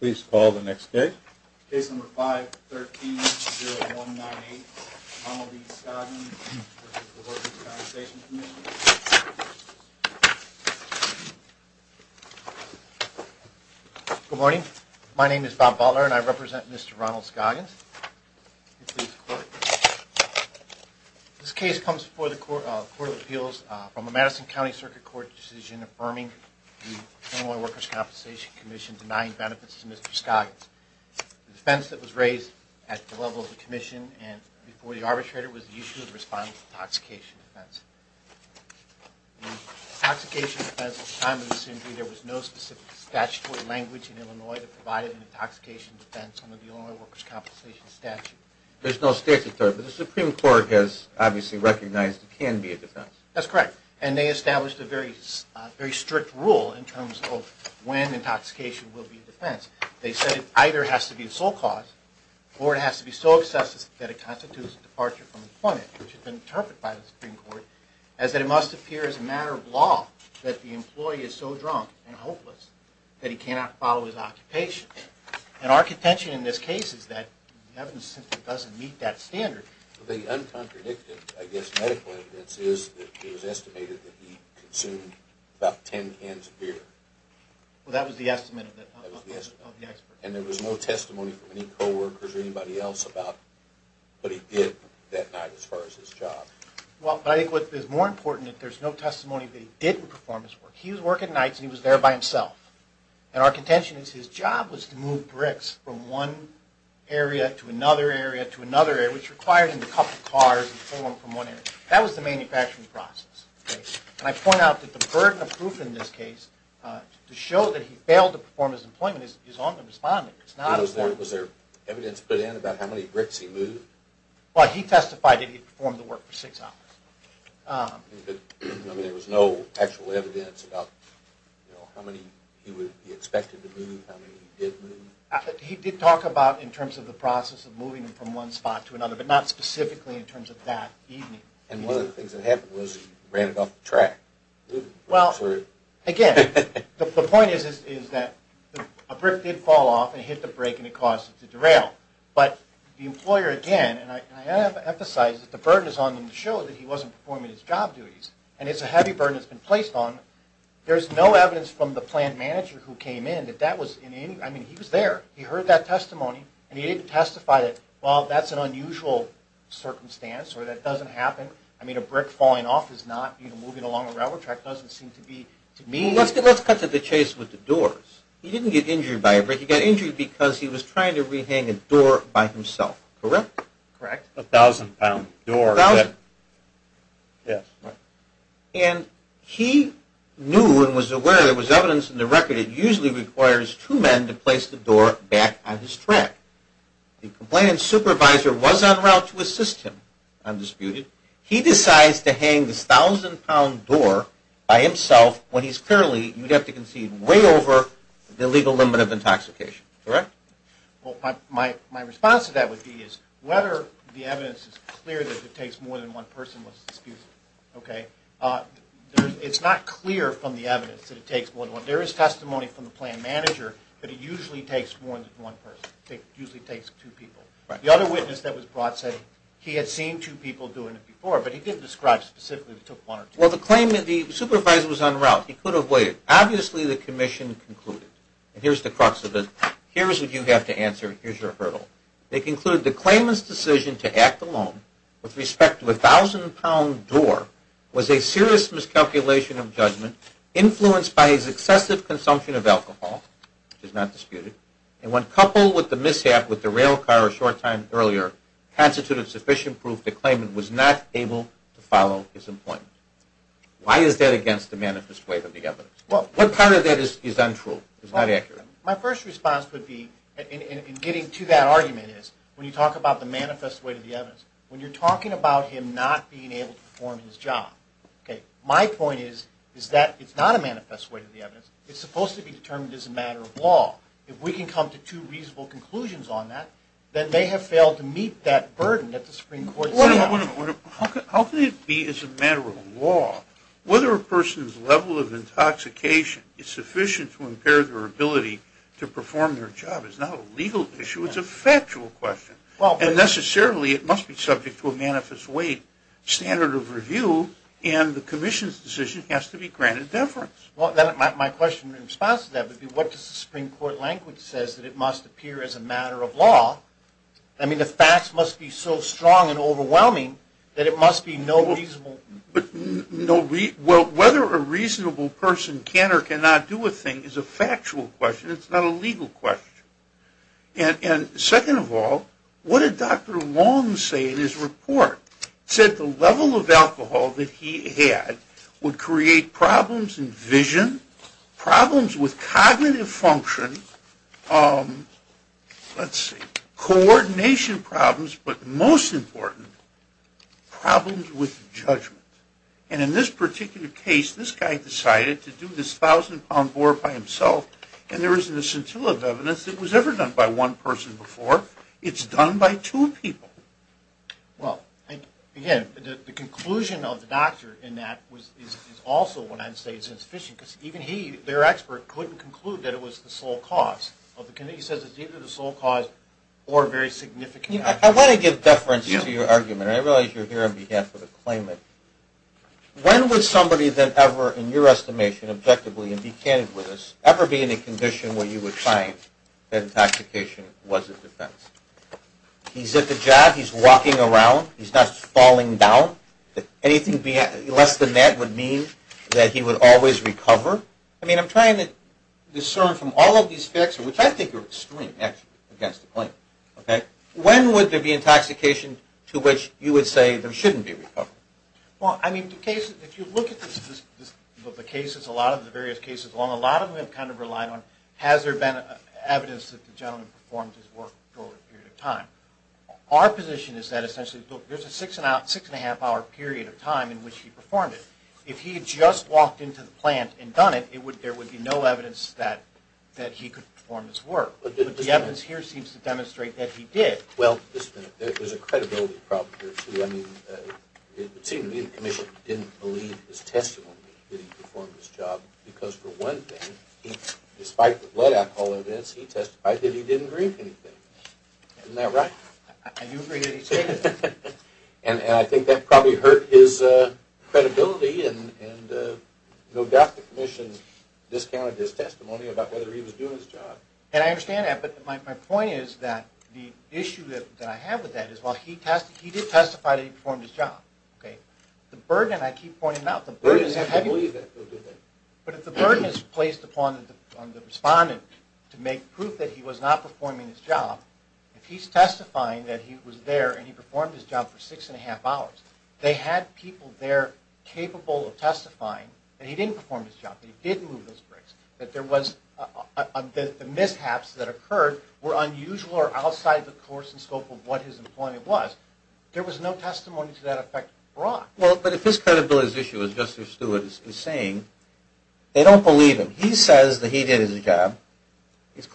Please call the next case. Case number 513-0198, Ronald B. Scoggins v. Workers' Compensation Commission Good morning. My name is Bob Butler and I represent Mr. Ronald Scoggins. This case comes before the Court of Appeals from the Madison County Circuit Court decision affirming the benefits to Mr. Scoggins. The defense that was raised at the level of the commission and before the arbitrator was the issue of the respondent's intoxication defense. The intoxication defense, at the time of this injury, there was no specific statutory language in Illinois that provided an intoxication defense under the Illinois Workers' Compensation statute. There's no statutory, but the Supreme Court has obviously recognized it can be a defense. That's correct. And they established a very strict rule in terms of when intoxication will be a defense. They said it either has to be sole cause or it has to be so excessive that it constitutes a departure from employment, which has been interpreted by the Supreme Court, as that it must appear as a matter of law that the employee is so drunk and hopeless that he cannot follow his occupation. And our contention in this case is that the evidence simply doesn't meet that standard. The uncontradicted, I guess, medical evidence is that it was estimated that he consumed about 10 cans of beer. Well, that was the estimate of the expert. And there was no testimony from any co-workers or anybody else about what he did that night as far as his job. Well, I think what is more important is that there's no testimony that he didn't perform his work. He was working nights and he was there by himself. And our contention is his job was to move bricks from one area to another area which required him to couple cars and pull them from one area. That was the manufacturing process. And I point out that the burden of proof in this case to show that he failed to perform his employment is on the respondent. Was there evidence put in about how many bricks he moved? Well, he testified that he performed the work for six hours. But there was no actual evidence about how many he would be expected to move, how many he did move? He did talk about in terms of the process of moving them from one spot to another, but not specifically in terms of that evening. And one of the things that happened was he ran it off the track. Well, again, the point is that a brick did fall off and hit the brake and it caused it to derail. But the employer, again, and I have emphasized that the burden is on him to show that he wasn't performing his job duties. And it's a heavy burden that's been placed on him. There's no evidence from the plant manager who came in that that was in any – I mean, he was there. He heard that testimony and he didn't testify that, well, that's an unusual circumstance or that doesn't happen. I mean, a brick falling off is not – you know, moving along a railroad track doesn't seem to be, to me – Well, let's cut to the chase with the doors. He didn't get injured by a brick. He got injured because he was trying to rehang a door by himself, correct? Correct. A 1,000-pound door that – 1,000. Yes. And he knew and was aware there was evidence in the record that usually requires two men to place the door back on his track. The complainant's supervisor was en route to assist him, undisputed. He decides to hang this 1,000-pound door by himself when he's clearly – you'd have to concede – way over the legal limit of intoxication, correct? Well, my response to that would be is whether the evidence is clear that it takes more than one person was disputed. Okay? It's not clear from the evidence that it takes more than one. There is testimony from the plan manager that it usually takes more than one person. It usually takes two people. The other witness that was brought said he had seen two people doing it before, but he didn't describe specifically it took one or two. Well, the claimant – the supervisor was en route. He could have waited. Obviously, the commission concluded. And here's the crux of it. Here's what you have to answer. Here's your hurdle. They concluded the claimant's decision to act alone with respect to a 1,000-pound door was a serious miscalculation of judgment influenced by his excessive consumption of alcohol, which is not disputed, and when coupled with the mishap with the rail car a short time earlier, constituted sufficient proof the claimant was not able to follow his employment. Why is that against the manifest way of the evidence? What part of that is untrue, is not accurate? My first response would be, in getting to that argument, is when you talk about the manifest way of the evidence, when you're talking about him not being able to perform his job, my point is that it's not a manifest way of the evidence. It's supposed to be determined as a matter of law. If we can come to two reasonable conclusions on that, then they have failed to meet that burden that the Supreme Court set out. How can it be as a matter of law whether a person's level of intoxication is sufficient to impair their ability to perform their job? It's not a legal issue. It's a factual question, and necessarily it must be subject to a manifest way standard of review, and the commission's decision has to be granted deference. My question in response to that would be, what does the Supreme Court language say that it must appear as a matter of law? I mean, the facts must be so strong and overwhelming that it must be no reasonable. Well, whether a reasonable person can or cannot do a thing is a factual question. It's not a legal question. And second of all, what did Dr. Long say in his report? He said the level of alcohol that he had would create problems in vision, problems with cognitive function, coordination problems, but most important, problems with judgment. And in this particular case, this guy decided to do this 1,000-pound bore by himself, and there isn't a scintilla of evidence that it was ever done by one person before. It's done by two people. Well, again, the conclusion of the doctor in that is also what I'd say is insufficient, because even he, their expert, couldn't conclude that it was the sole cause. He says it's either the sole cause or very significant. I want to give deference to your argument, and I realize you're here on behalf of a claimant. When would somebody then ever, in your estimation, objectively, and be candid with us, ever be in a condition where you would find that intoxication was a defense? He's at the job. He's walking around. He's not falling down. Anything less than that would mean that he would always recover. I mean, I'm trying to discern from all of these facts, which I think are extreme, actually, against the claimant. When would there be intoxication to which you would say there shouldn't be recovery? Well, I mean, if you look at the cases, a lot of the various cases along, a lot of them have kind of relied on has there been evidence that the gentleman performed his work over a period of time. Our position is that essentially, look, there's a six-and-a-half-hour period of time in which he performed it. If he had just walked into the plant and done it, there would be no evidence that he could perform his work. But the evidence here seems to demonstrate that he did. Well, there's a credibility problem here, too. I mean, it would seem to me the commission didn't believe his testimony that he performed his job, because for one thing, despite the blood alcohol events, he testified that he didn't drink anything. Isn't that right? I do agree that he said that. And I think that probably hurt his credibility, and no doubt the commission discounted his testimony about whether he was doing his job. And I understand that, but my point is that the issue that I have with that is, well, he did testify that he performed his job. The burden, I keep pointing out, the burden is heavy. But if the burden is placed upon the respondent to make proof that he was not performing his job, if he's testifying that he was there and he performed his job for six-and-a-half hours, they had people there capable of testifying that he didn't perform his job, that he did move those bricks, that the mishaps that occurred were unusual or outside the course and scope of what his employment was. There was no testimony to that effect brought. Well, but if his credibility is at issue, as Justice Stewart is saying, they don't believe him. He says that he did his job.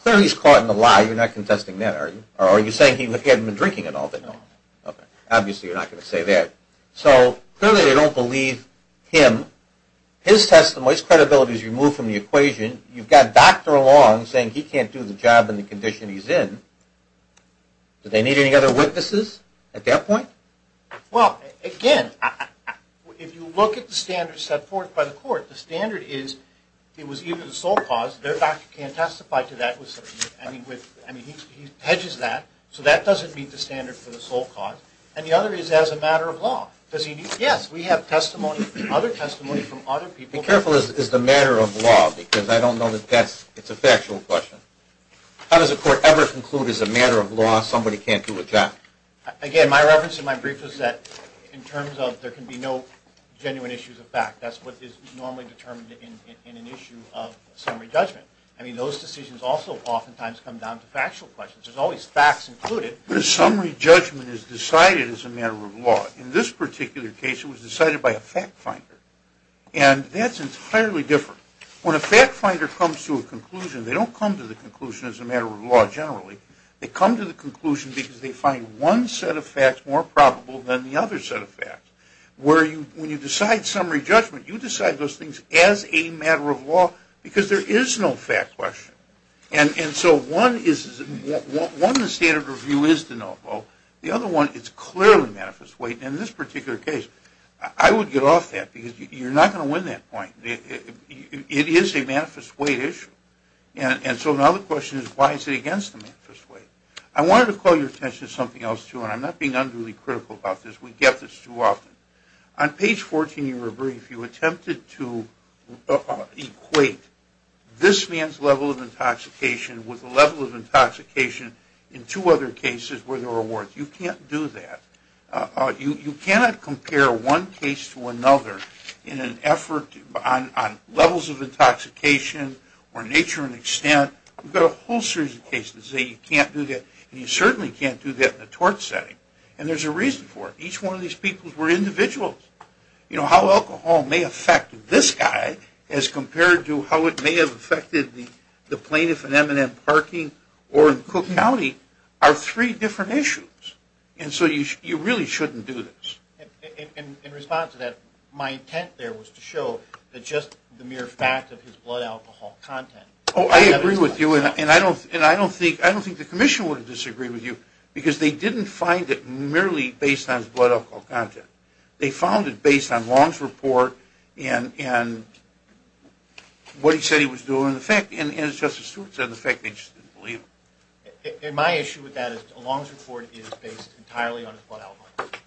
Clearly, he's caught in the lie. You're not contesting that, are you? Or are you saying he hadn't been drinking at all? No. Okay. Obviously, you're not going to say that. So clearly, they don't believe him. His testimony, his credibility is removed from the equation. You've got Dr. Long saying he can't do the job in the condition he's in. Do they need any other witnesses at that point? Well, again, if you look at the standards set forth by the court, the standard is it was even the sole cause. Their doctor can't testify to that. I mean, he hedges that. So that doesn't meet the standard for the sole cause. And the other is as a matter of law. Yes, we have testimony, other testimony from other people. Be careful, is it a matter of law? Because I don't know that that's a factual question. How does a court ever conclude as a matter of law somebody can't do a job? Again, my reference in my brief is that in terms of there can be no genuine issues of fact. That's what is normally determined in an issue of summary judgment. I mean, those decisions also oftentimes come down to factual questions. There's always facts included. But a summary judgment is decided as a matter of law. In this particular case, it was decided by a fact finder. And that's entirely different. When a fact finder comes to a conclusion, they don't come to the conclusion as a matter of law generally. They come to the conclusion because they find one set of facts more probable than the other set of facts. When you decide summary judgment, you decide those things as a matter of law because there is no fact question. And so one, the standard of review is to know both. The other one, it's clearly manifest weight. And in this particular case, I would get off that because you're not going to win that point. It is a manifest weight issue. And so now the question is, why is it against the manifest weight? I wanted to call your attention to something else, too, and I'm not being unduly critical about this. We get this too often. On page 14 of your brief, you attempted to equate this man's level of intoxication with the level of intoxication in two other cases where there were warrants. You can't do that. You cannot compare one case to another in an effort on levels of intoxication or nature and extent. We've got a whole series of cases that say you can't do that, and you certainly can't do that in a tort setting. And there's a reason for it. Each one of these people were individuals. How alcohol may affect this guy as compared to how it may have affected the plaintiff in M&M parking or in Cook County are three different issues. And so you really shouldn't do this. And in response to that, my intent there was to show that just the mere fact of his blood alcohol content. Oh, I agree with you, and I don't think the Commission would disagree with you because they didn't find it merely based on his blood alcohol content. They found it based on Long's report and what he said he was doing and the fact, and as Justice Stewart said, the fact they just didn't believe him. And my issue with that is Long's report is based entirely on his blood alcohol content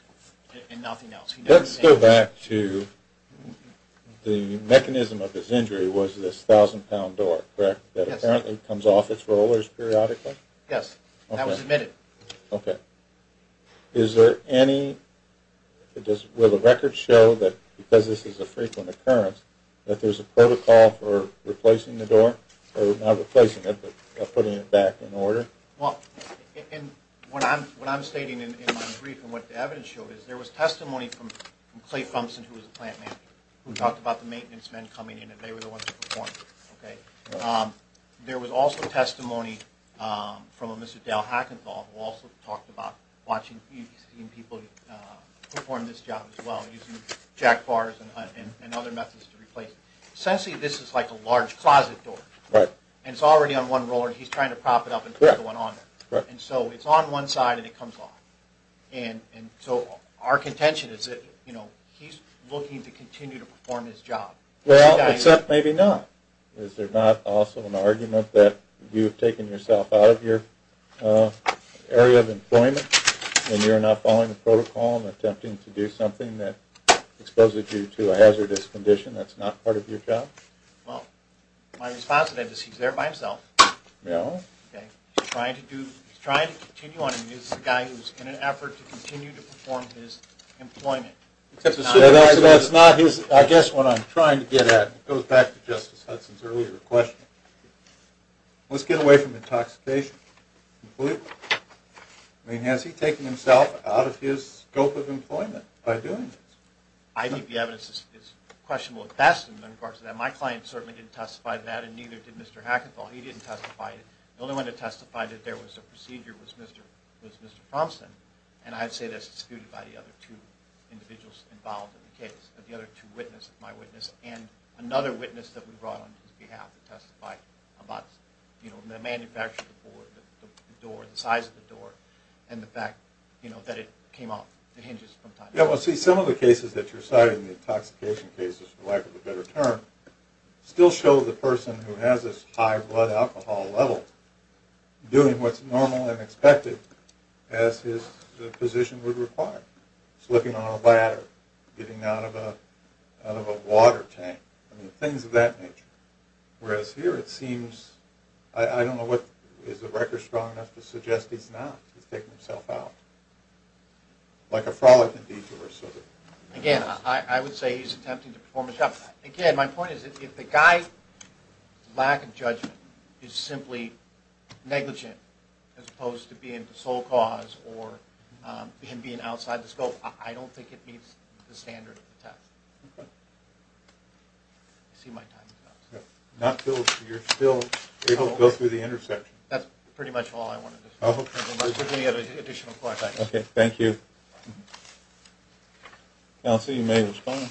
and nothing else. Let's go back to the mechanism of this injury was this 1,000-pound door, correct? Yes. That apparently comes off its rollers periodically? Yes, that was admitted. Okay. Is there any, will the record show that because this is a frequent occurrence, that there's a protocol for replacing the door, or not replacing it but putting it back in order? Well, what I'm stating in my brief and what the evidence showed is there was testimony from Clay Thompson, who was a plant manager, who talked about the maintenance men coming in and they were the ones who performed it. Okay. There was also testimony from a Mr. Dale Hackenthal who also talked about watching people perform this job as well, using jack bars and other methods to replace it. Essentially, this is like a large closet door. Right. And it's already on one roller and he's trying to prop it up and put another one on there. Right. And so it's on one side and it comes off. And so our contention is that, you know, he's looking to continue to perform his job. Well, except maybe not. And you're not following the protocol and attempting to do something that exposes you to a hazardous condition. That's not part of your job? Well, my response to that is he's there by himself. No. Okay. He's trying to do, he's trying to continue on. He's a guy who's in an effort to continue to perform his employment. Well, that's not his, I guess what I'm trying to get at. It goes back to Justice Hudson's earlier question. Let's get away from intoxication completely. I mean, has he taken himself out of his scope of employment by doing this? I think the evidence is questionable at best in regards to that. My client certainly didn't testify to that and neither did Mr. Hackenthal. He didn't testify. The only one to testify that there was a procedure was Mr. Thompson. And I'd say that's disputed by the other two individuals involved in the case. But the other two witnesses, my witness and another witness that we brought on his behalf to testify about, you know, the manufacture of the board, the door, the size of the door, and the fact, you know, that it came off the hinges from time to time. Yeah, well, see, some of the cases that you're citing, the intoxication cases for lack of a better term, still show the person who has this high blood alcohol level doing what's normal and expected as his position would require. Slipping on a ladder, getting out of a water tank. I mean, things of that nature. Whereas here it seems, I don't know, is the record strong enough to suggest he's not? He's taken himself out. Like a frolic in detour sort of. Again, I would say he's attempting to perform a job. Again, my point is if the guy's lack of judgment is simply negligent as opposed to being the sole cause or him being outside the scope, I don't think it meets the standard of the test. Okay. I see my time is up. You're still able to go through the intersection. That's pretty much all I wanted to say. If you have any additional questions. Okay, thank you. Counsel, you may respond.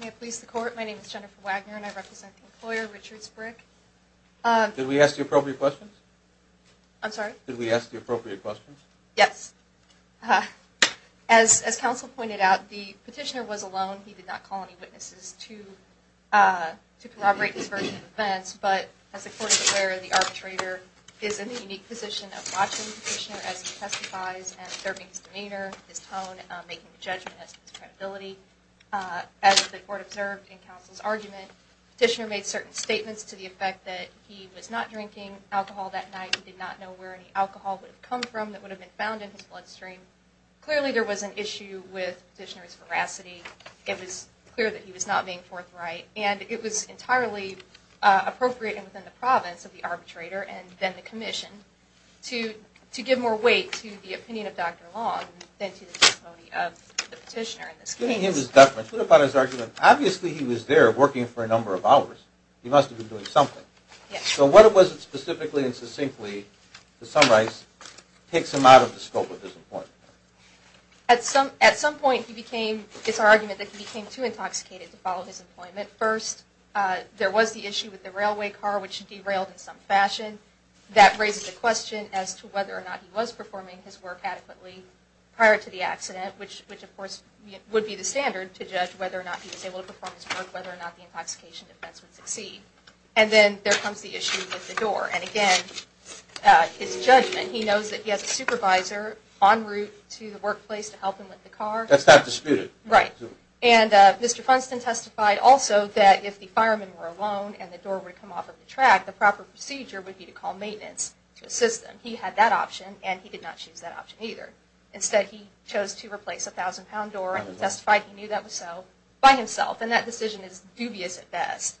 May I please the court? My name is Jennifer Wagner and I represent the employer, Richards Brick. Did we ask the appropriate questions? I'm sorry? Did we ask the appropriate questions? Yes. As counsel pointed out, the petitioner was alone. He did not call any witnesses to corroborate his version of events. But as the court is aware, the arbitrator is in the unique position of watching the petitioner as he testifies and observing his demeanor, his tone, making a judgment as to his credibility. As the court observed in counsel's argument, the petitioner made certain statements to the effect that he was not drinking alcohol that night. He did not know where any alcohol would have come from that would have been found in his bloodstream. Clearly there was an issue with the petitioner's veracity. It was clear that he was not being forthright. And it was entirely appropriate within the province of the arbitrator and then the commission to give more weight to the opinion of Dr. Long than to the testimony of the petitioner in this case. Giving him this deference, what about his argument? Obviously he was there working for a number of hours. He must have been doing something. So what was it specifically and succinctly, to summarize, takes him out of the scope of his employment? At some point, it's our argument that he became too intoxicated to follow his employment. First, there was the issue with the railway car, which derailed in some fashion. That raises the question as to whether or not he was performing his work adequately prior to the accident, which of course would be the standard to judge whether or not he was able to perform his work, whether or not the intoxication defense would succeed. And then there comes the issue with the door. And again, his judgment, he knows that he has a supervisor en route to the workplace to help him with the car. That's not disputed. Right. And Mr. Funston testified also that if the firemen were alone and the door would come off of the track, the proper procedure would be to call maintenance to assist them. He had that option, and he did not choose that option either. Instead, he chose to replace a 1,000-pound door, and he testified he knew that was so by himself. And that decision is dubious at best.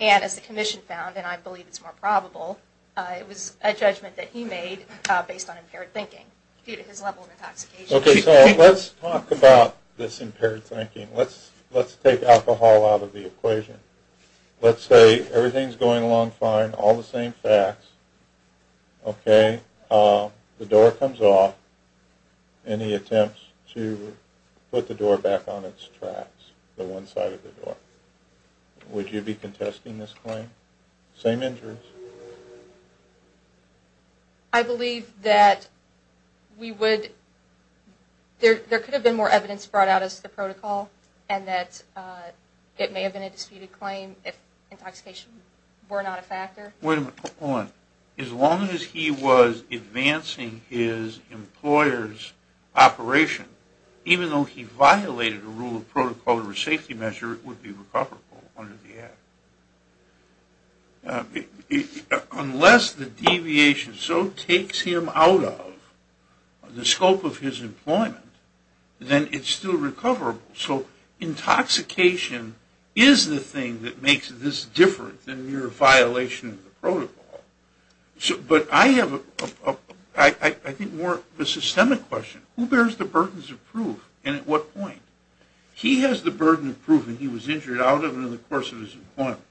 And as the commission found, and I believe it's more probable, it was a judgment that he made based on impaired thinking due to his level of intoxication. Okay, so let's talk about this impaired thinking. Let's take alcohol out of the equation. Let's say everything's going along fine, all the same facts. Okay, the door comes off, and he attempts to put the door back on its tracks, the one side of the door. Would you be contesting this claim? Same injuries? I believe that we would. There could have been more evidence brought out as to the protocol, and that it may have been a disputed claim if intoxication were not a factor. Wait a minute, hold on. As long as he was advancing his employer's operation, even though he violated a rule of protocol or a safety measure, it would be recoverable under the Act. Unless the deviation so takes him out of the scope of his employment, then it's still recoverable. So intoxication is the thing that makes this different than your violation of the protocol. But I have, I think, more of a systemic question. Who bears the burdens of proof, and at what point? He has the burden of proof that he was injured out of and in the course of his employment.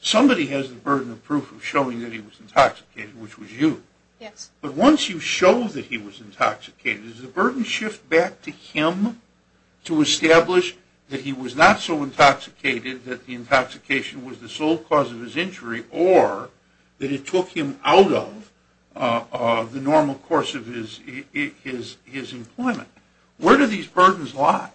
Somebody has the burden of proof of showing that he was intoxicated, which was you. Yes. But once you show that he was intoxicated, does the burden shift back to him to establish that he was not so intoxicated, that the intoxication was the sole cause of his injury, or that it took him out of the normal course of his employment? Where do these burdens lie?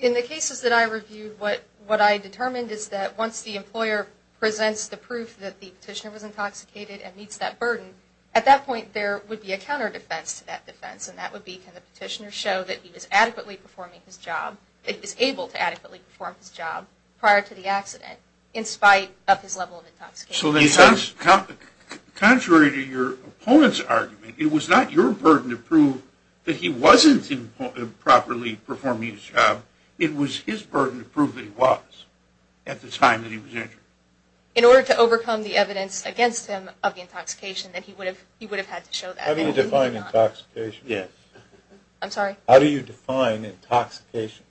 In the cases that I reviewed, what I determined is that once the employer presents the proof that the petitioner was intoxicated and meets that burden, at that point there would be a counter defense to that defense, and that would be can the petitioner show that he was adequately performing his job, that he was able to adequately perform his job prior to the accident in spite of his level of intoxication. So contrary to your opponent's argument, it was not your burden to prove that he wasn't properly performing his job. It was his burden to prove that he was at the time that he was injured. In order to overcome the evidence against him of the intoxication, then he would have had to show that. How do you define intoxication? I'm sorry? How do you define intoxication?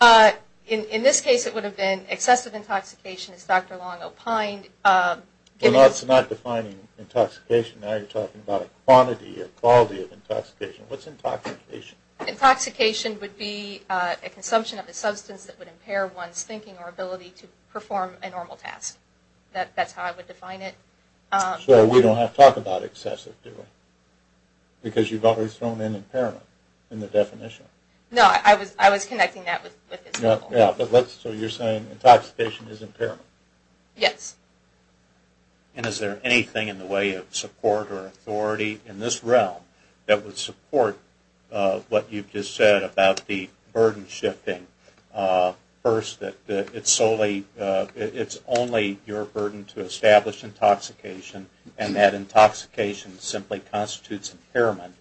In this case it would have been excessive intoxication, as Dr. Long opined. Well, that's not defining intoxication. Now you're talking about a quantity, a quality of intoxication. What's intoxication? Intoxication would be a consumption of a substance that would impair one's thinking or ability to perform a normal task. That's how I would define it. So we don't have to talk about excessive, do we? Because you've already thrown in impairment in the definition. No, I was connecting that with his level. So you're saying intoxication is impairment? Yes. And is there anything in the way of support or authority in this realm that would support what you've just said about the burden shifting? First, it's only your burden to establish intoxication, and that intoxication simply constitutes impairment,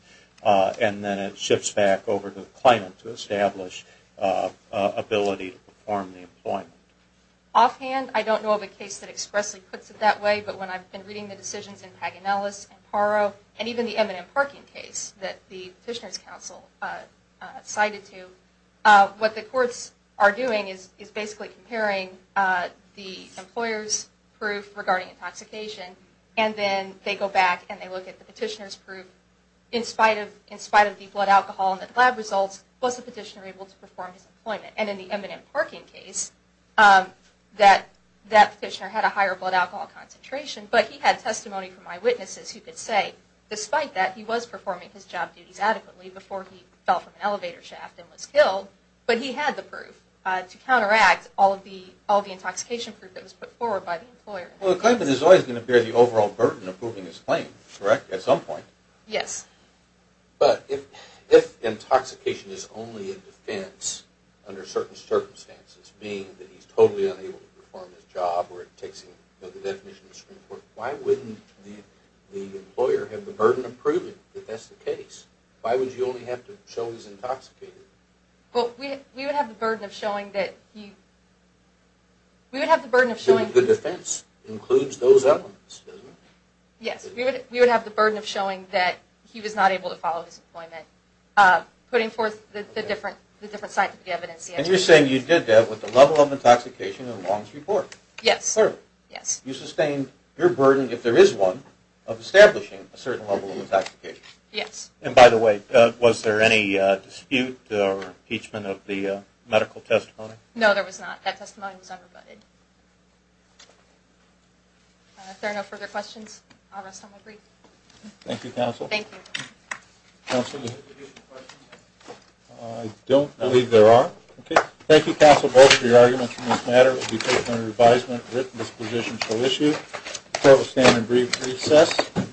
and then it shifts back over to the claimant to establish ability to perform the employment. Offhand, I don't know of a case that expressly puts it that way, but when I've been reading the decisions in Paganellis and Paro, and even the Eminent Parking case that the Petitioner's Council cited to, what the courts are doing is basically comparing the employer's proof regarding intoxication, and then they go back and they look at the petitioner's proof, in spite of the blood alcohol and the lab results, was the petitioner able to perform his employment? And in the Eminent Parking case, that petitioner had a higher blood alcohol concentration, but he had testimony from eyewitnesses who could say, despite that he was performing his job duties adequately before he fell from an elevator shaft and was killed, but he had the proof to counteract all the intoxication proof that was put forward by the employer. Well, the claimant is always going to bear the overall burden of proving his claim, correct, at some point? Yes. But if intoxication is only a defense under certain circumstances, being that he's totally unable to perform his job or it takes him, you know, the definition of Supreme Court, why wouldn't the employer have the burden of proving that that's the case? Why would you only have to show he's intoxicated? Well, we would have the burden of showing that he... We would have the burden of showing... The defense includes those elements, doesn't it? Yes, we would have the burden of showing that he was not able to follow his employment, putting forth the different scientific evidence. And you're saying you did that with the level of intoxication in Wong's report? Yes. You sustained your burden, if there is one, of establishing a certain level of intoxication? Yes. And by the way, was there any dispute or impeachment of the medical testimony? No, there was not. That testimony was unrebutted. If there are no further questions, I'll rest on my break. Thank you, counsel. Thank you. Counsel, I don't believe there are. Okay. Thank you, counsel, both, for your arguments on this matter. It will be taken under advisement, written disposition shall issue. The court will stand in brief recess.